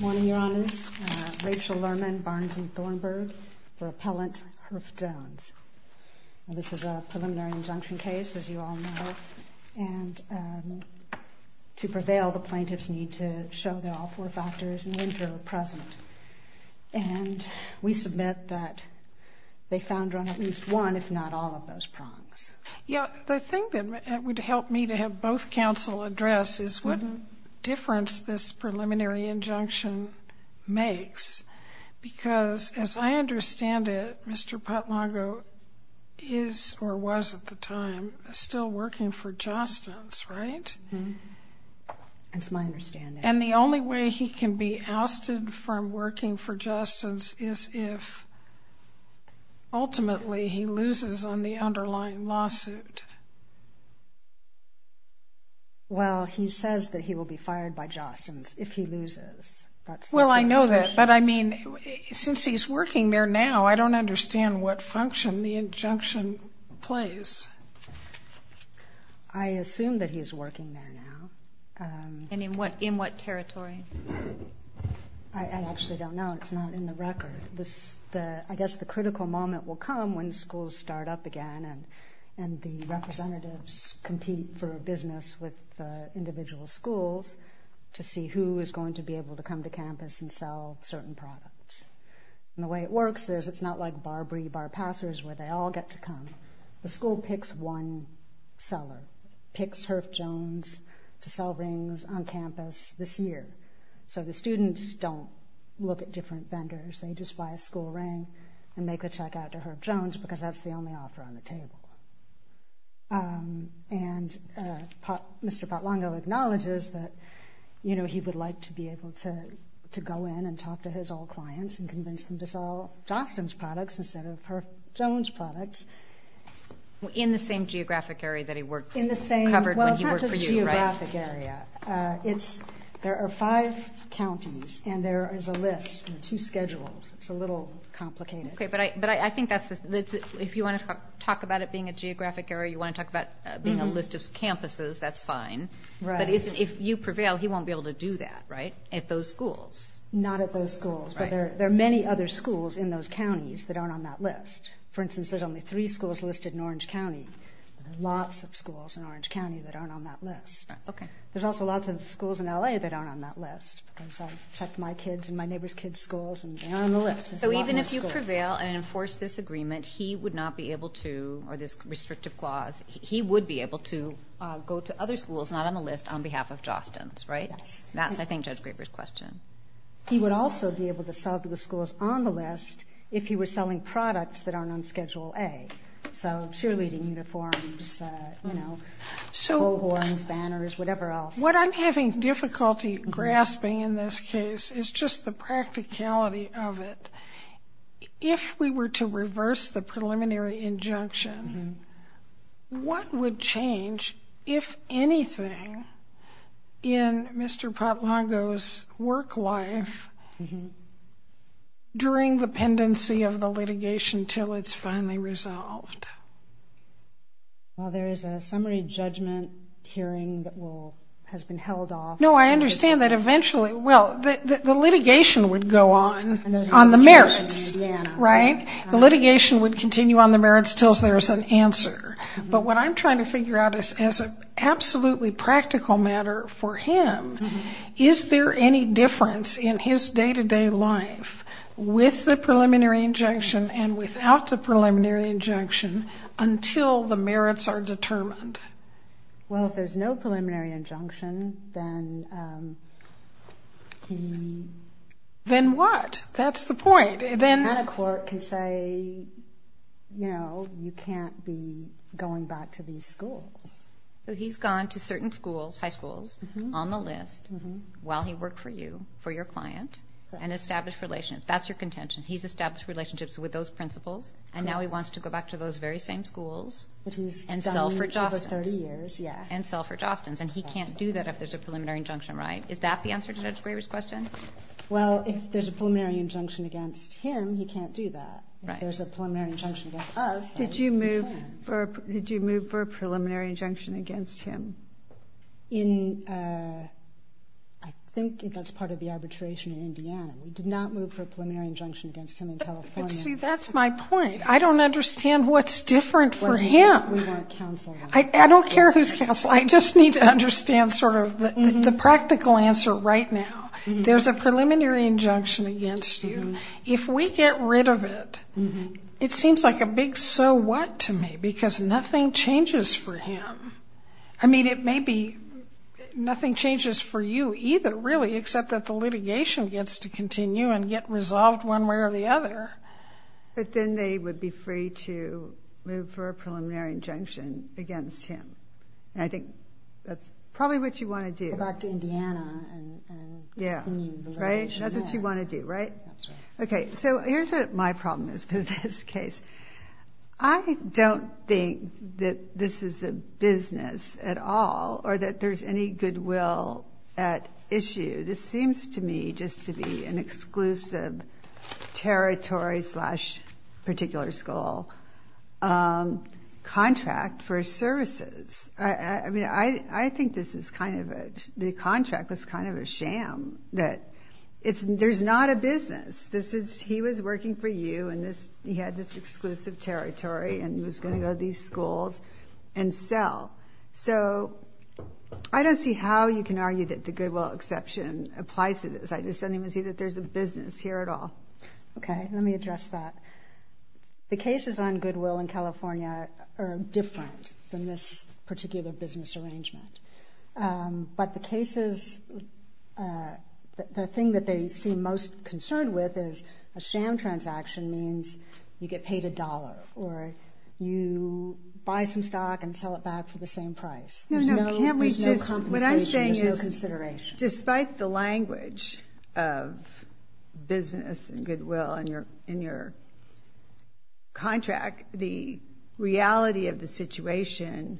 Morning, Your Honors. Rachel Lerman, Barnes & Thornburg for Appellant Herff Jones. This is a preliminary injunction case, as you all know. And to prevail, the plaintiffs need to show that all four factors in winter are present. And we submit that they found her on at least one, if not all, of those prongs. Yeah, the thing that would help me to have both counsel address is what difference this preliminary injunction makes. Because, as I understand it, Mr. Potlongo is, or was at the time, still working for Jostens, right? That's my understanding. And the only way he can be ousted from working for Jostens is if, ultimately, he loses on the underlying lawsuit. Well, he says that he will be fired by Jostens if he loses. Well, I know that, but I mean, since he's working there now, I don't understand what function the injunction plays. I assume that he's working there now. And in what territory? I actually don't know. It's not in the record. I guess the critical moment will come when schools start up again, and the representatives compete for business with individual schools to see who is going to be able to come to campus and sell certain products. And the way it works is it's not like Barbary Bar Passers, where they all get to come. The school picks one seller, picks Herb Jones to sell rings on campus this year. So the students don't look at different vendors. They just buy a school ring and make a check out to Herb Jones because that's the only offer on the table. And Mr. Potlongo acknowledges that he would like to be able to go in and talk to his old clients and convince them to sell Johnston's products instead of Herb Jones products. In the same geographic area that he worked for you, right? Well, it's not just geographic area. There are five counties, and there is a list and two schedules. It's a little complicated. Okay, but I think if you want to talk about it being a geographic area, you want to talk about being a list of campuses, that's fine. Right. But if you prevail, he won't be able to do that, right, at those schools? Not at those schools, but there are many other schools in those counties that aren't on that list. For instance, there's only three schools listed in Orange County. There are lots of schools in Orange County that aren't on that list. Okay. There's also lots of schools in L.A. that aren't on that list, because I've checked my kids' and my neighbor's kids' schools, and they aren't on the list. So even if you prevail and enforce this agreement, he would not be able to, or this restrictive clause, he would be able to go to other schools not on the list on behalf of Johnston's, right? Yes. That's, I think, Judge Graber's question. He would also be able to sell to the schools on the list if he were selling products that aren't on Schedule A, so cheerleading uniforms, you know, coal horns, banners, whatever else. What I'm having difficulty grasping in this case is just the practicality of it. If we were to reverse the preliminary injunction, what would change, if anything, in Mr. Potlago's work life during the pendency of the litigation until it's finally resolved? Well, there is a summary judgment hearing that has been held off. No, I understand that eventually. Well, the litigation would go on on the merits, right? The litigation would continue on the merits until there is an answer. But what I'm trying to figure out is, as an absolutely practical matter for him, is there any difference in his day-to-day life with the preliminary injunction and without the preliminary injunction until the merits are determined? Well, if there's no preliminary injunction, then he... Then what? That's the point. Then a court can say, you know, you can't be going back to these schools. He's gone to certain schools, high schools, on the list while he worked for you, for your client, and established relationships. That's your contention. He's established relationships with those principals, And now he wants to go back to those very same schools and sell for Jostens. But he's done that for 30 years, yeah. And sell for Jostens. And he can't do that if there's a preliminary injunction, right? Is that the answer to Judge Graber's question? Well, if there's a preliminary injunction against him, he can't do that. Right. If there's a preliminary injunction against us, then he can. Did you move for a preliminary injunction against him? In, I think that's part of the arbitration in Indiana. We did not move for a preliminary injunction against him in California. But, see, that's my point. I don't understand what's different for him. We got a counselor. I don't care who's counselor. I just need to understand sort of the practical answer right now. There's a preliminary injunction against you. If we get rid of it, it seems like a big so what to me because nothing changes for him. I mean, it may be nothing changes for you either, really, except that the litigation gets to continue and get resolved one way or the other. But then they would be free to move for a preliminary injunction against him. And I think that's probably what you want to do. Go back to Indiana and continue the litigation there. Right? That's what you want to do, right? That's right. Okay, so here's what my problem is with this case. I don't think that this is a business at all or that there's any goodwill at issue. This seems to me just to be an exclusive territory slash particular school contract for services. I mean, I think this is kind of a – the contract was kind of a sham that there's not a business. This is – he was working for you and he had this exclusive territory and he was going to go to these schools and sell. So I don't see how you can argue that the goodwill exception applies to this. I just don't even see that there's a business here at all. Okay, let me address that. The cases on goodwill in California are different than this particular business arrangement. But the cases – the thing that they seem most concerned with is a sham transaction means you get paid a dollar or you buy some stock and sell it back for the same price. No, no, can't we just – what I'm saying is despite the language of business and goodwill in your contract, the reality of the situation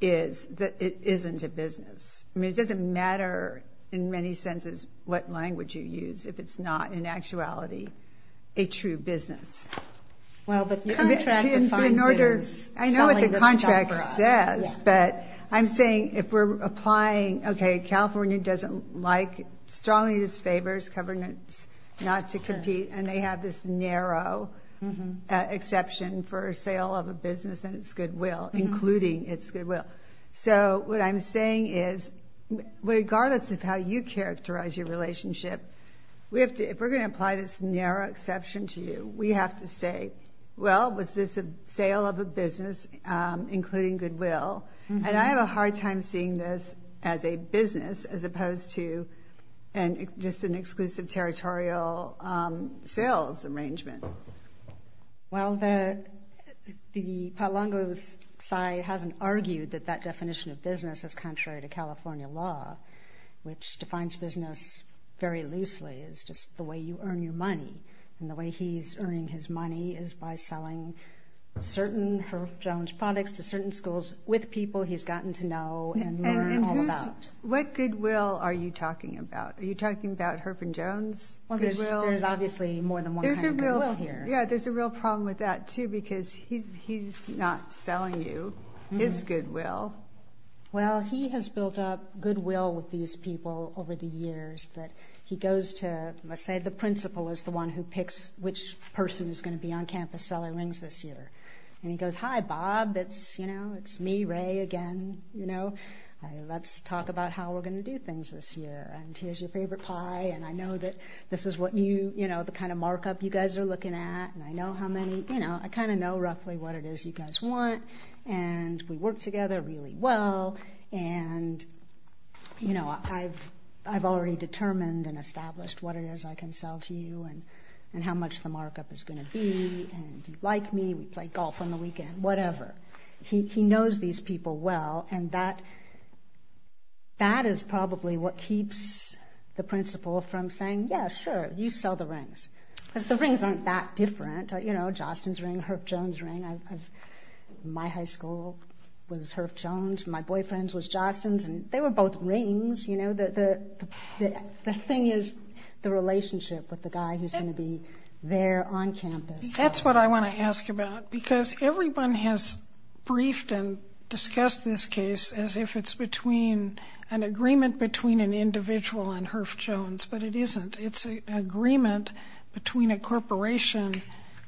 is that it isn't a business. I mean, it doesn't matter in many senses what language you use if it's not in actuality a true business. Well, the contract defines it as selling the stock for us. I know what the contract says, but I'm saying if we're applying – okay, California doesn't like – strongly disfavors governance not to compete and they have this narrow exception for sale of a business and its goodwill, including its goodwill. So what I'm saying is regardless of how you characterize your relationship, if we're going to apply this narrow exception to you, we have to say, well, was this a sale of a business including goodwill? And I have a hard time seeing this as a business as opposed to just an exclusive territorial sales arrangement. Well, the Palangos side hasn't argued that that definition of business is contrary to California law, which defines business very loosely as just the way you earn your money. And the way he's earning his money is by selling certain Herb Jones products to certain schools with people he's gotten to know and learn all about. And what goodwill are you talking about? Are you talking about Herb and Jones goodwill? Well, there's obviously more than one kind of goodwill here. Yeah, there's a real problem with that, too, because he's not selling you his goodwill. Well, he has built up goodwill with these people over the years that he goes to, let's say the principal is the one who picks which person is going to be on campus selling rings this year. And he goes, hi, Bob. It's me, Ray, again. Let's talk about how we're going to do things this year. And here's your favorite pie. And I know that this is what you, the kind of markup you guys are looking at. And I know how many, I kind of know roughly what it is you guys want. And we work together really well. And, you know, I've already determined and established what it is I can sell to you and how much the markup is going to be. And you like me, we play golf on the weekend, whatever. He knows these people well. And that is probably what keeps the principal from saying, yeah, sure, you sell the rings. Because the rings aren't that different. You know, Jostens ring, Herff Jones ring. My high school was Herff Jones. My boyfriend's was Jostens. And they were both rings, you know. The thing is the relationship with the guy who's going to be there on campus. That's what I want to ask about. Because everyone has briefed and discussed this case as if it's between an agreement between an individual and Herff Jones. But it isn't. It's an agreement between a corporation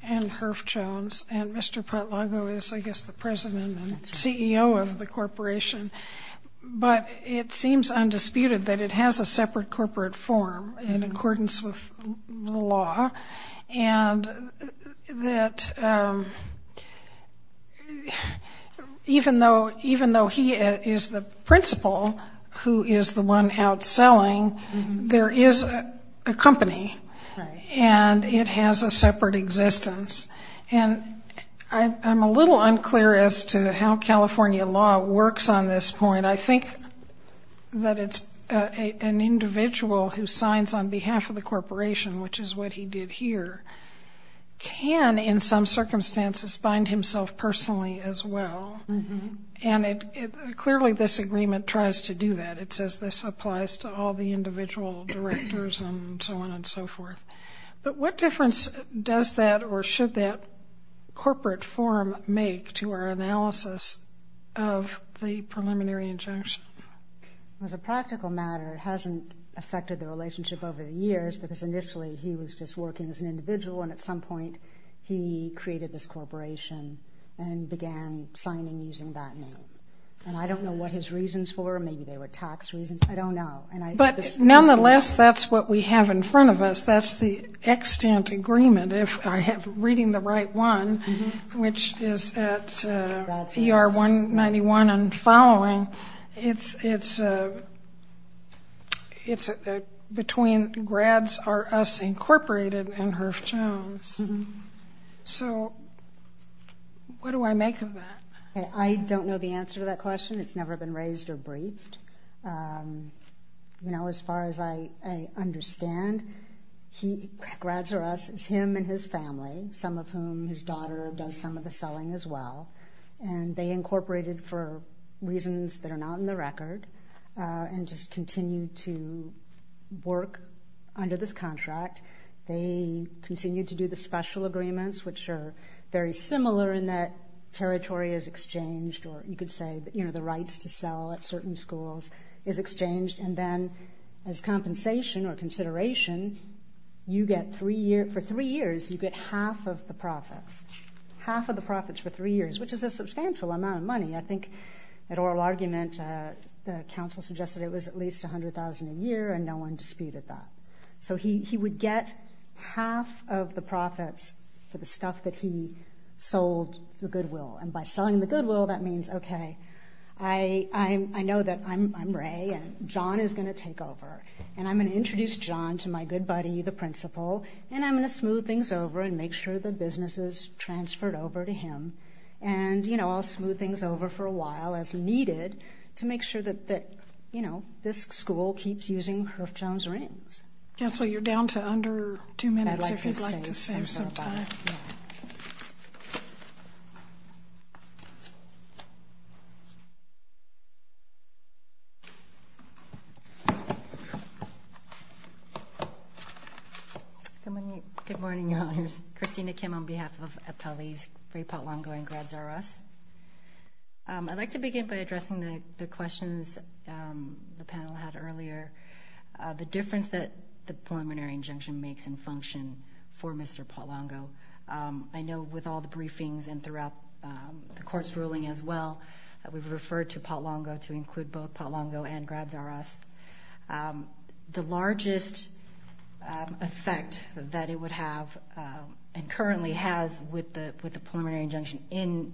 and Herff Jones. And Mr. Patlago is, I guess, the president and CEO of the corporation. But it seems undisputed that it has a separate corporate form in accordance with the law. And that even though he is the principal who is the one outselling, there is a company. And it has a separate existence. And I'm a little unclear as to how California law works on this point. I think that it's an individual who signs on behalf of the corporation, which is what he did here, can in some circumstances bind himself personally as well. And clearly this agreement tries to do that. It says this applies to all the individual directors and so on and so forth. But what difference does that or should that corporate form make to our analysis of the preliminary injunction? As a practical matter, it hasn't affected the relationship over the years because initially he was just working as an individual. And at some point he created this corporation and began signing using that name. And I don't know what his reasons were. Maybe they were tax reasons. I don't know. But nonetheless, that's what we have in front of us. That's the extant agreement, if I am reading the right one, which is at ER 191 and following. It's between Grads, Us, Incorporated and Herff Jones. So what do I make of that? I don't know the answer to that question. It's never been raised or briefed. You know, as far as I understand, Grads, Us is him and his family, some of whom his daughter does some of the selling as well. And they incorporated for reasons that are not in the record and just continue to work under this contract. They continue to do the special agreements, which are very similar in that territory is exchanged or you could say, you know, the rights to sell at certain schools is exchanged. And then as compensation or consideration, for three years you get half of the profits, half of the profits for three years, which is a substantial amount of money. I think that oral argument, the council suggested it was at least $100,000 a year, and no one disputed that. So he would get half of the profits for the stuff that he sold the Goodwill. And by selling the Goodwill, that means, okay, I know that I'm Ray and John is going to take over, and I'm going to introduce John to my good buddy, the principal, and I'm going to smooth things over and make sure the business is transferred over to him. And, you know, I'll smooth things over for a while as needed to make sure that, you know, this school keeps using Herff Jones rings. Counsel, you're down to under two minutes if you'd like to save some time. Good morning, Your Honors. Christina Kim on behalf of appellees, Ray Palumbo, and Grad Zarros. I'd like to begin by addressing the questions the panel had earlier. The difference that the preliminary injunction makes in function for Mr. Palumbo, I know with all the briefings and throughout the court's ruling as well, we've referred to Palumbo to include both Palumbo and Grad Zarros. The largest effect that it would have and currently has with the preliminary injunction in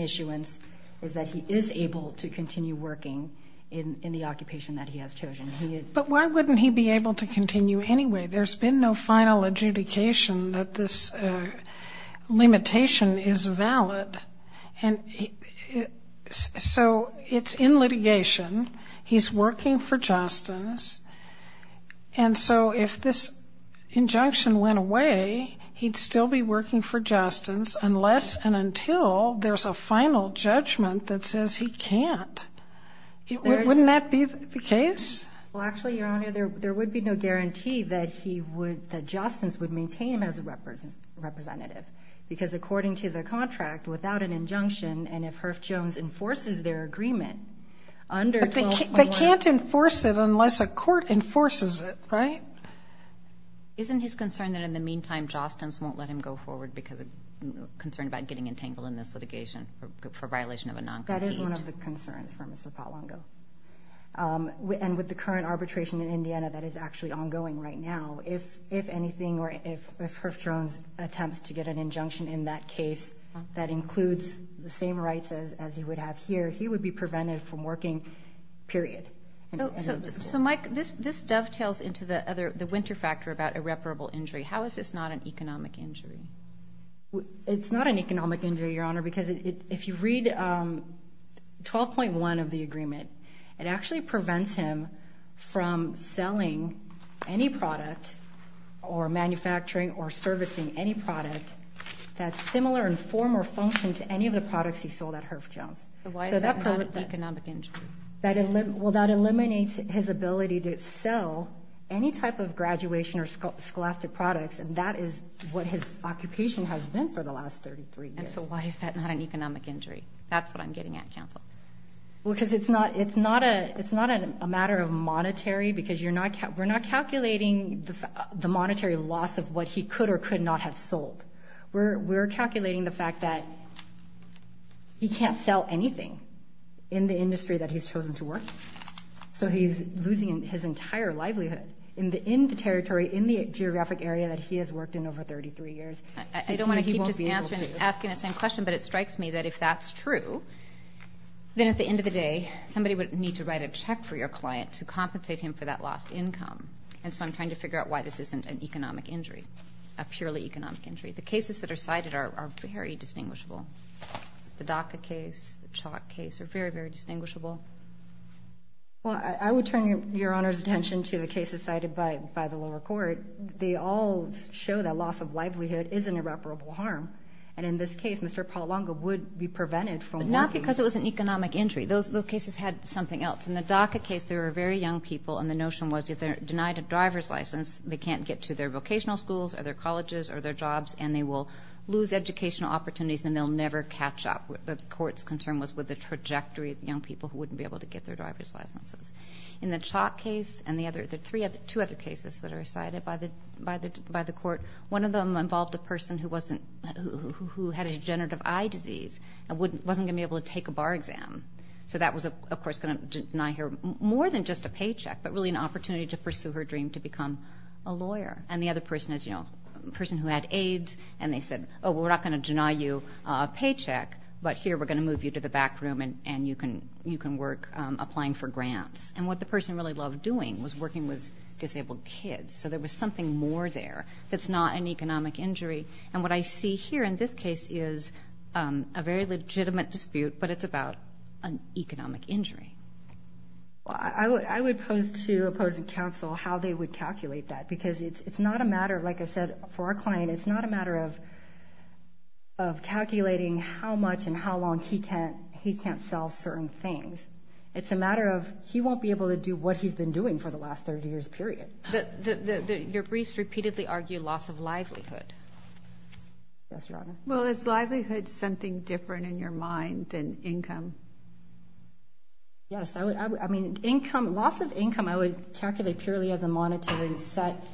issuance is that he is able to continue working in the occupation that he has chosen. But why wouldn't he be able to continue anyway? There's been no final adjudication that this limitation is valid. And so it's in litigation. He's working for justice. And so if this injunction went away, he'd still be working for justice unless and until there's a final judgment that says he can't. Wouldn't that be the case? Well, actually, Your Honor, there would be no guarantee that he would, that Jostens would maintain as a representative. Because according to the contract, without an injunction, and if Herff Jones enforces their agreement under 12.1. But they can't enforce it unless a court enforces it, right? Isn't his concern that in the meantime Jostens won't let him go forward because of concern about getting entangled in this litigation for violation of a non-competed? That is one of the concerns for Mr. Patwango. And with the current arbitration in Indiana that is actually ongoing right now, if anything or if Herff Jones attempts to get an injunction in that case that includes the same rights as he would have here, he would be prevented from working, period. So, Mike, this dovetails into the winter factor about irreparable injury. How is this not an economic injury? It's not an economic injury, Your Honor, because if you read 12.1 of the agreement, it actually prevents him from selling any product or manufacturing or servicing any product that's similar in form or function to any of the products he sold at Herff Jones. So why is that not an economic injury? Well, that eliminates his ability to sell any type of graduation or scholastic products, and that is what his occupation has been for the last 33 years. And so why is that not an economic injury? That's what I'm getting at, counsel. Well, because it's not a matter of monetary, because we're not calculating the monetary loss of what he could or could not have sold. We're calculating the fact that he can't sell anything in the industry that he's chosen to work. So he's losing his entire livelihood in the territory, in the geographic area, that he has worked in over 33 years. I don't want to keep just asking the same question, but it strikes me that if that's true, then at the end of the day somebody would need to write a check for your client to compensate him for that lost income. And so I'm trying to figure out why this isn't an economic injury, a purely economic injury. The cases that are cited are very distinguishable. The DACA case, the chalk case are very, very distinguishable. Well, I would turn Your Honor's attention to the cases cited by the lower court. They all show that loss of livelihood is an irreparable harm. And in this case, Mr. Pallanga would be prevented from working. But not because it was an economic injury. Those cases had something else. In the DACA case, there were very young people, and the notion was if they're denied a driver's license, they can't get to their vocational schools or their colleges or their jobs, and they will lose educational opportunities and they'll never catch up. The court's concern was with the trajectory of young people who wouldn't be able to get their driver's licenses. In the chalk case and the two other cases that are cited by the court, one of them involved a person who had a degenerative eye disease and wasn't going to be able to take a bar exam. So that was, of course, going to deny her more than just a paycheck, but really an opportunity to pursue her dream to become a lawyer. And the other person is, you know, a person who had AIDS, and they said, oh, we're not going to deny you a paycheck, but here we're going to move you to the back room and you can work applying for grants. And what the person really loved doing was working with disabled kids. So there was something more there that's not an economic injury. And what I see here in this case is a very legitimate dispute, but it's about an economic injury. I would pose to opposing counsel how they would calculate that, because it's not a matter, like I said, for our client, it's not a matter of calculating how much and how long he can't sell certain things. It's a matter of he won't be able to do what he's been doing for the last 30 years, period. Your briefs repeatedly argue loss of livelihood. Yes, Your Honor. Well, is livelihood something different in your mind than income? Yes. I mean, loss of income I would calculate purely as a monetary set,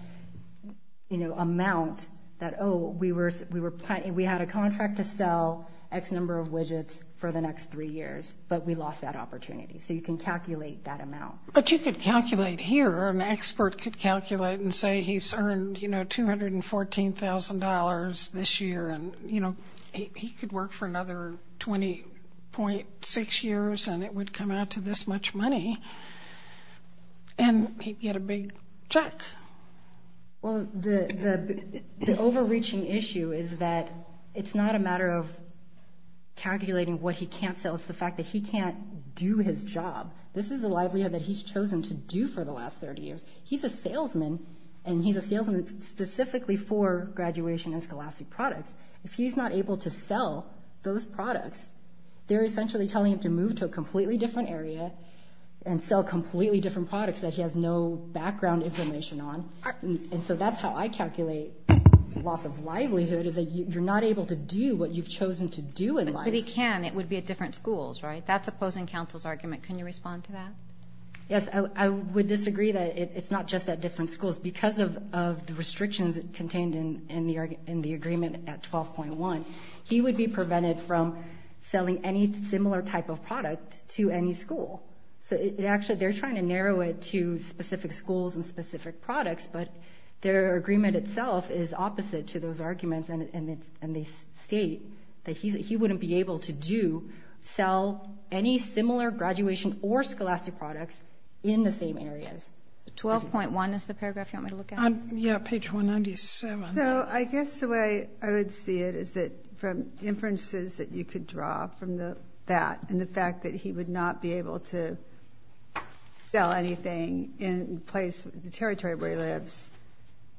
you know, amount that, oh, we had a contract to sell X number of widgets for the next three years, but we lost that opportunity. So you can calculate that amount. But you could calculate here, an expert could calculate and say he's earned, you know, $214,000 this year, and, you know, he could work for another 20.6 years and it would come out to this much money, and he'd get a big check. Well, the overreaching issue is that it's not a matter of calculating what he can't sell. It's the fact that he can't do his job. This is the livelihood that he's chosen to do for the last 30 years. He's a salesman, and he's a salesman specifically for graduation and scholastic products. If he's not able to sell those products, they're essentially telling him to move to a completely different area and sell completely different products that he has no background information on. And so that's how I calculate loss of livelihood, is that you're not able to do what you've chosen to do in life. But he can. It would be at different schools, right? That's opposing counsel's argument. Can you respond to that? Yes, I would disagree that it's not just at different schools. Because of the restrictions contained in the agreement at 12.1, he would be prevented from selling any similar type of product to any school. So actually they're trying to narrow it to specific schools and specific products, but their agreement itself is opposite to those arguments, and they state that he wouldn't be able to do, sell any similar graduation or scholastic products in the same areas. 12.1 is the paragraph you want me to look at? Yeah, page 197. So I guess the way I would see it is that from inferences that you could draw from that and the fact that he would not be able to sell anything in the territory where he lives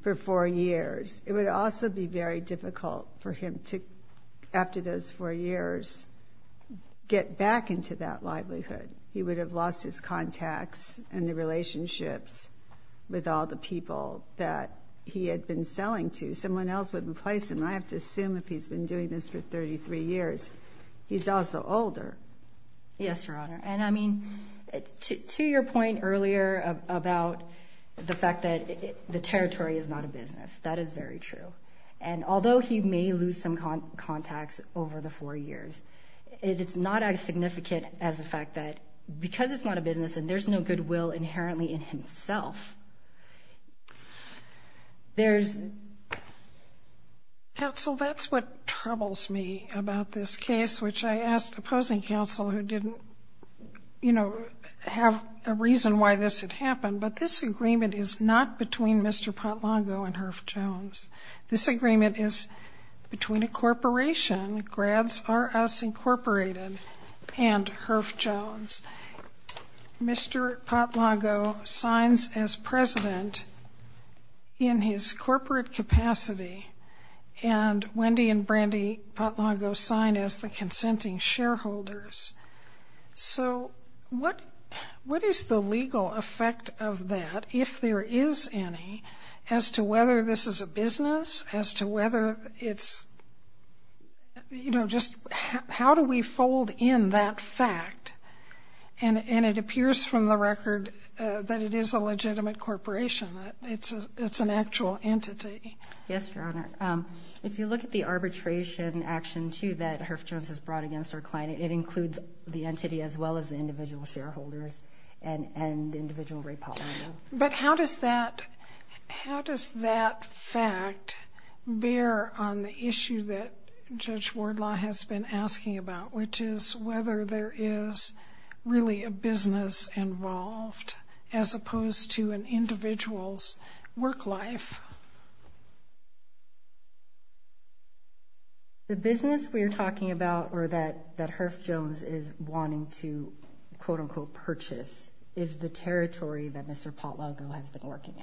for four years, it would also be very difficult for him to, after those four years, get back into that livelihood. He would have lost his contacts and the relationships with all the people that he had been selling to. Someone else would replace him. I have to assume if he's been doing this for 33 years, he's also older. Yes, Your Honor. And I mean, to your point earlier about the fact that the territory is not a business, that is very true. And although he may lose some contacts over the four years, it is not as significant as the fact that because it's not a business and there's no goodwill inherently in himself, there's... Counsel, that's what troubles me about this case, which I asked opposing counsel who didn't, you know, have a reason why this had happened, but this agreement is not between Mr. Potlago and Herff Jones. This agreement is between a corporation, Grads R Us Incorporated and Herff Jones. Mr. Potlago signs as president in his corporate capacity, and Wendy and Brandy Potlago sign as the consenting shareholders. So what is the legal effect of that, if there is any, as to whether this is a business, as to whether it's, you know, just how do we fold in that fact? And it appears from the record that it is a legitimate corporation. It's an actual entity. Yes, Your Honor. If you look at the arbitration action too that Herff Jones has brought against our client, it includes the entity as well as the individual shareholders and individual Ray Potlago. But how does that fact bear on the issue that Judge Wardlaw has been asking about, which is whether there is really a business involved as opposed to an individual's work life? The business we are talking about or that Herff Jones is wanting to, quote-unquote, purchase is the territory that Mr. Potlago has been working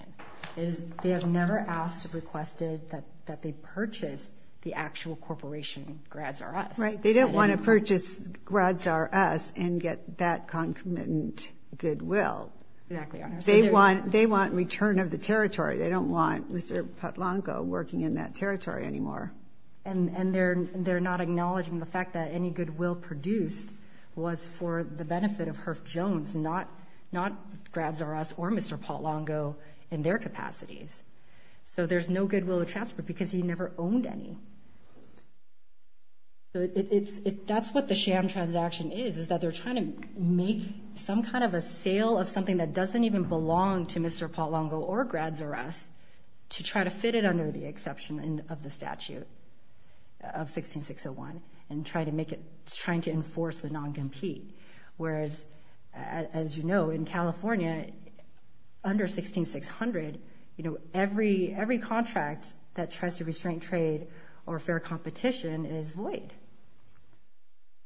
in. They have never asked or requested that they purchase the actual corporation, Grads R Us. Right. They don't want to purchase Grads R Us and get that concomitant goodwill. They want return of the territory. They don't want Mr. Potlago working in that territory anymore. And they're not acknowledging the fact that any goodwill produced was for the benefit of Herff Jones, not Grads R Us or Mr. Potlago in their capacities. So there's no goodwill to transfer because he never owned any. That's what the sham transaction is, is that they're trying to make some kind of a sale of something that doesn't even belong to Mr. Potlago or Grads R Us to try to fit it under the exception of the statute of 16601 and trying to enforce the non-compete. Whereas, as you know, in California, under 16600, every contract that tries to restrain trade or fair competition is void.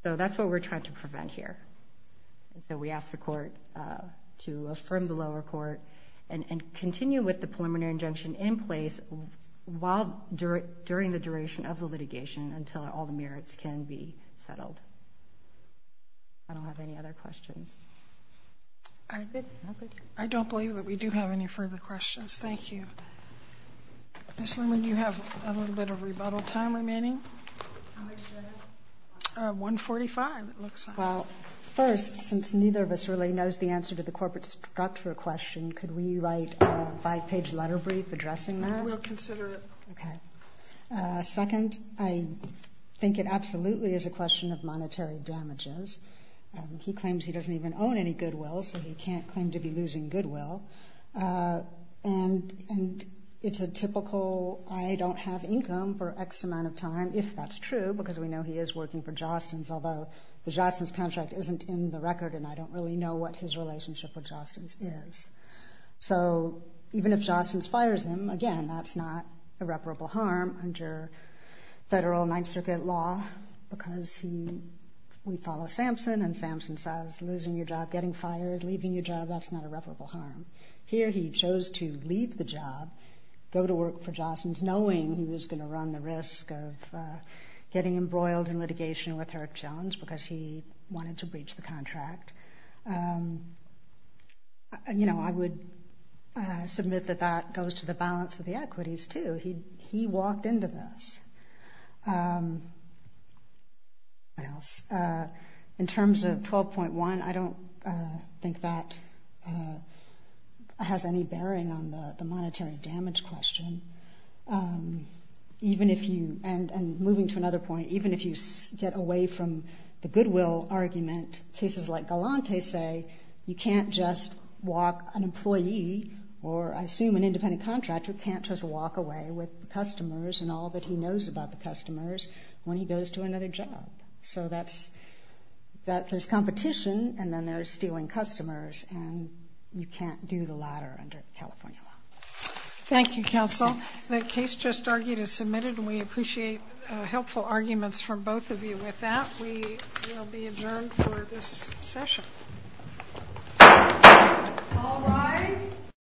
So that's what we're trying to prevent here. And so we ask the court to affirm the lower court and continue with the preliminary injunction in place during the duration of the litigation until all the merits can be settled. I don't have any other questions. I don't believe that we do have any further questions. Thank you. Ms. Lemon, you have a little bit of rebuttal time remaining. How much do I have? 145, it looks like. Well, first, since neither of us really knows the answer to the corporate structure question, could we write a five-page letter brief addressing that? We'll consider it. Okay. Second, I think it absolutely is a question of monetary damages. He claims he doesn't even own any goodwill, so he can't claim to be losing goodwill. And it's a typical, I don't have income for X amount of time, if that's true because we know he is working for Jostens, although the Jostens contract isn't in the record and I don't really know what his relationship with Jostens is. So even if Jostens fires him, again, that's not irreparable harm under federal Ninth Circuit law because we follow Samson, and Samson says losing your job, getting fired, leaving your job, that's not irreparable harm. Here he chose to leave the job, go to work for Jostens, knowing he was going to run the risk of getting embroiled in litigation with Herb Jones because he wanted to breach the contract. You know, I would submit that that goes to the balance of the equities too. He walked into this. What else? In terms of 12.1, I don't think that has any bearing on the monetary damage question. Even if you, and moving to another point, even if you get away from the goodwill argument, cases like Galante say you can't just walk an employee, or I assume an independent contractor can't just walk away with customers and all that he knows about the customers when he goes to another job. So there's competition, and then there's stealing customers, and you can't do the latter under California law. Thank you, counsel. The case just argued is submitted, and we appreciate helpful arguments from both of you with that. We will be adjourned for this session. All rise.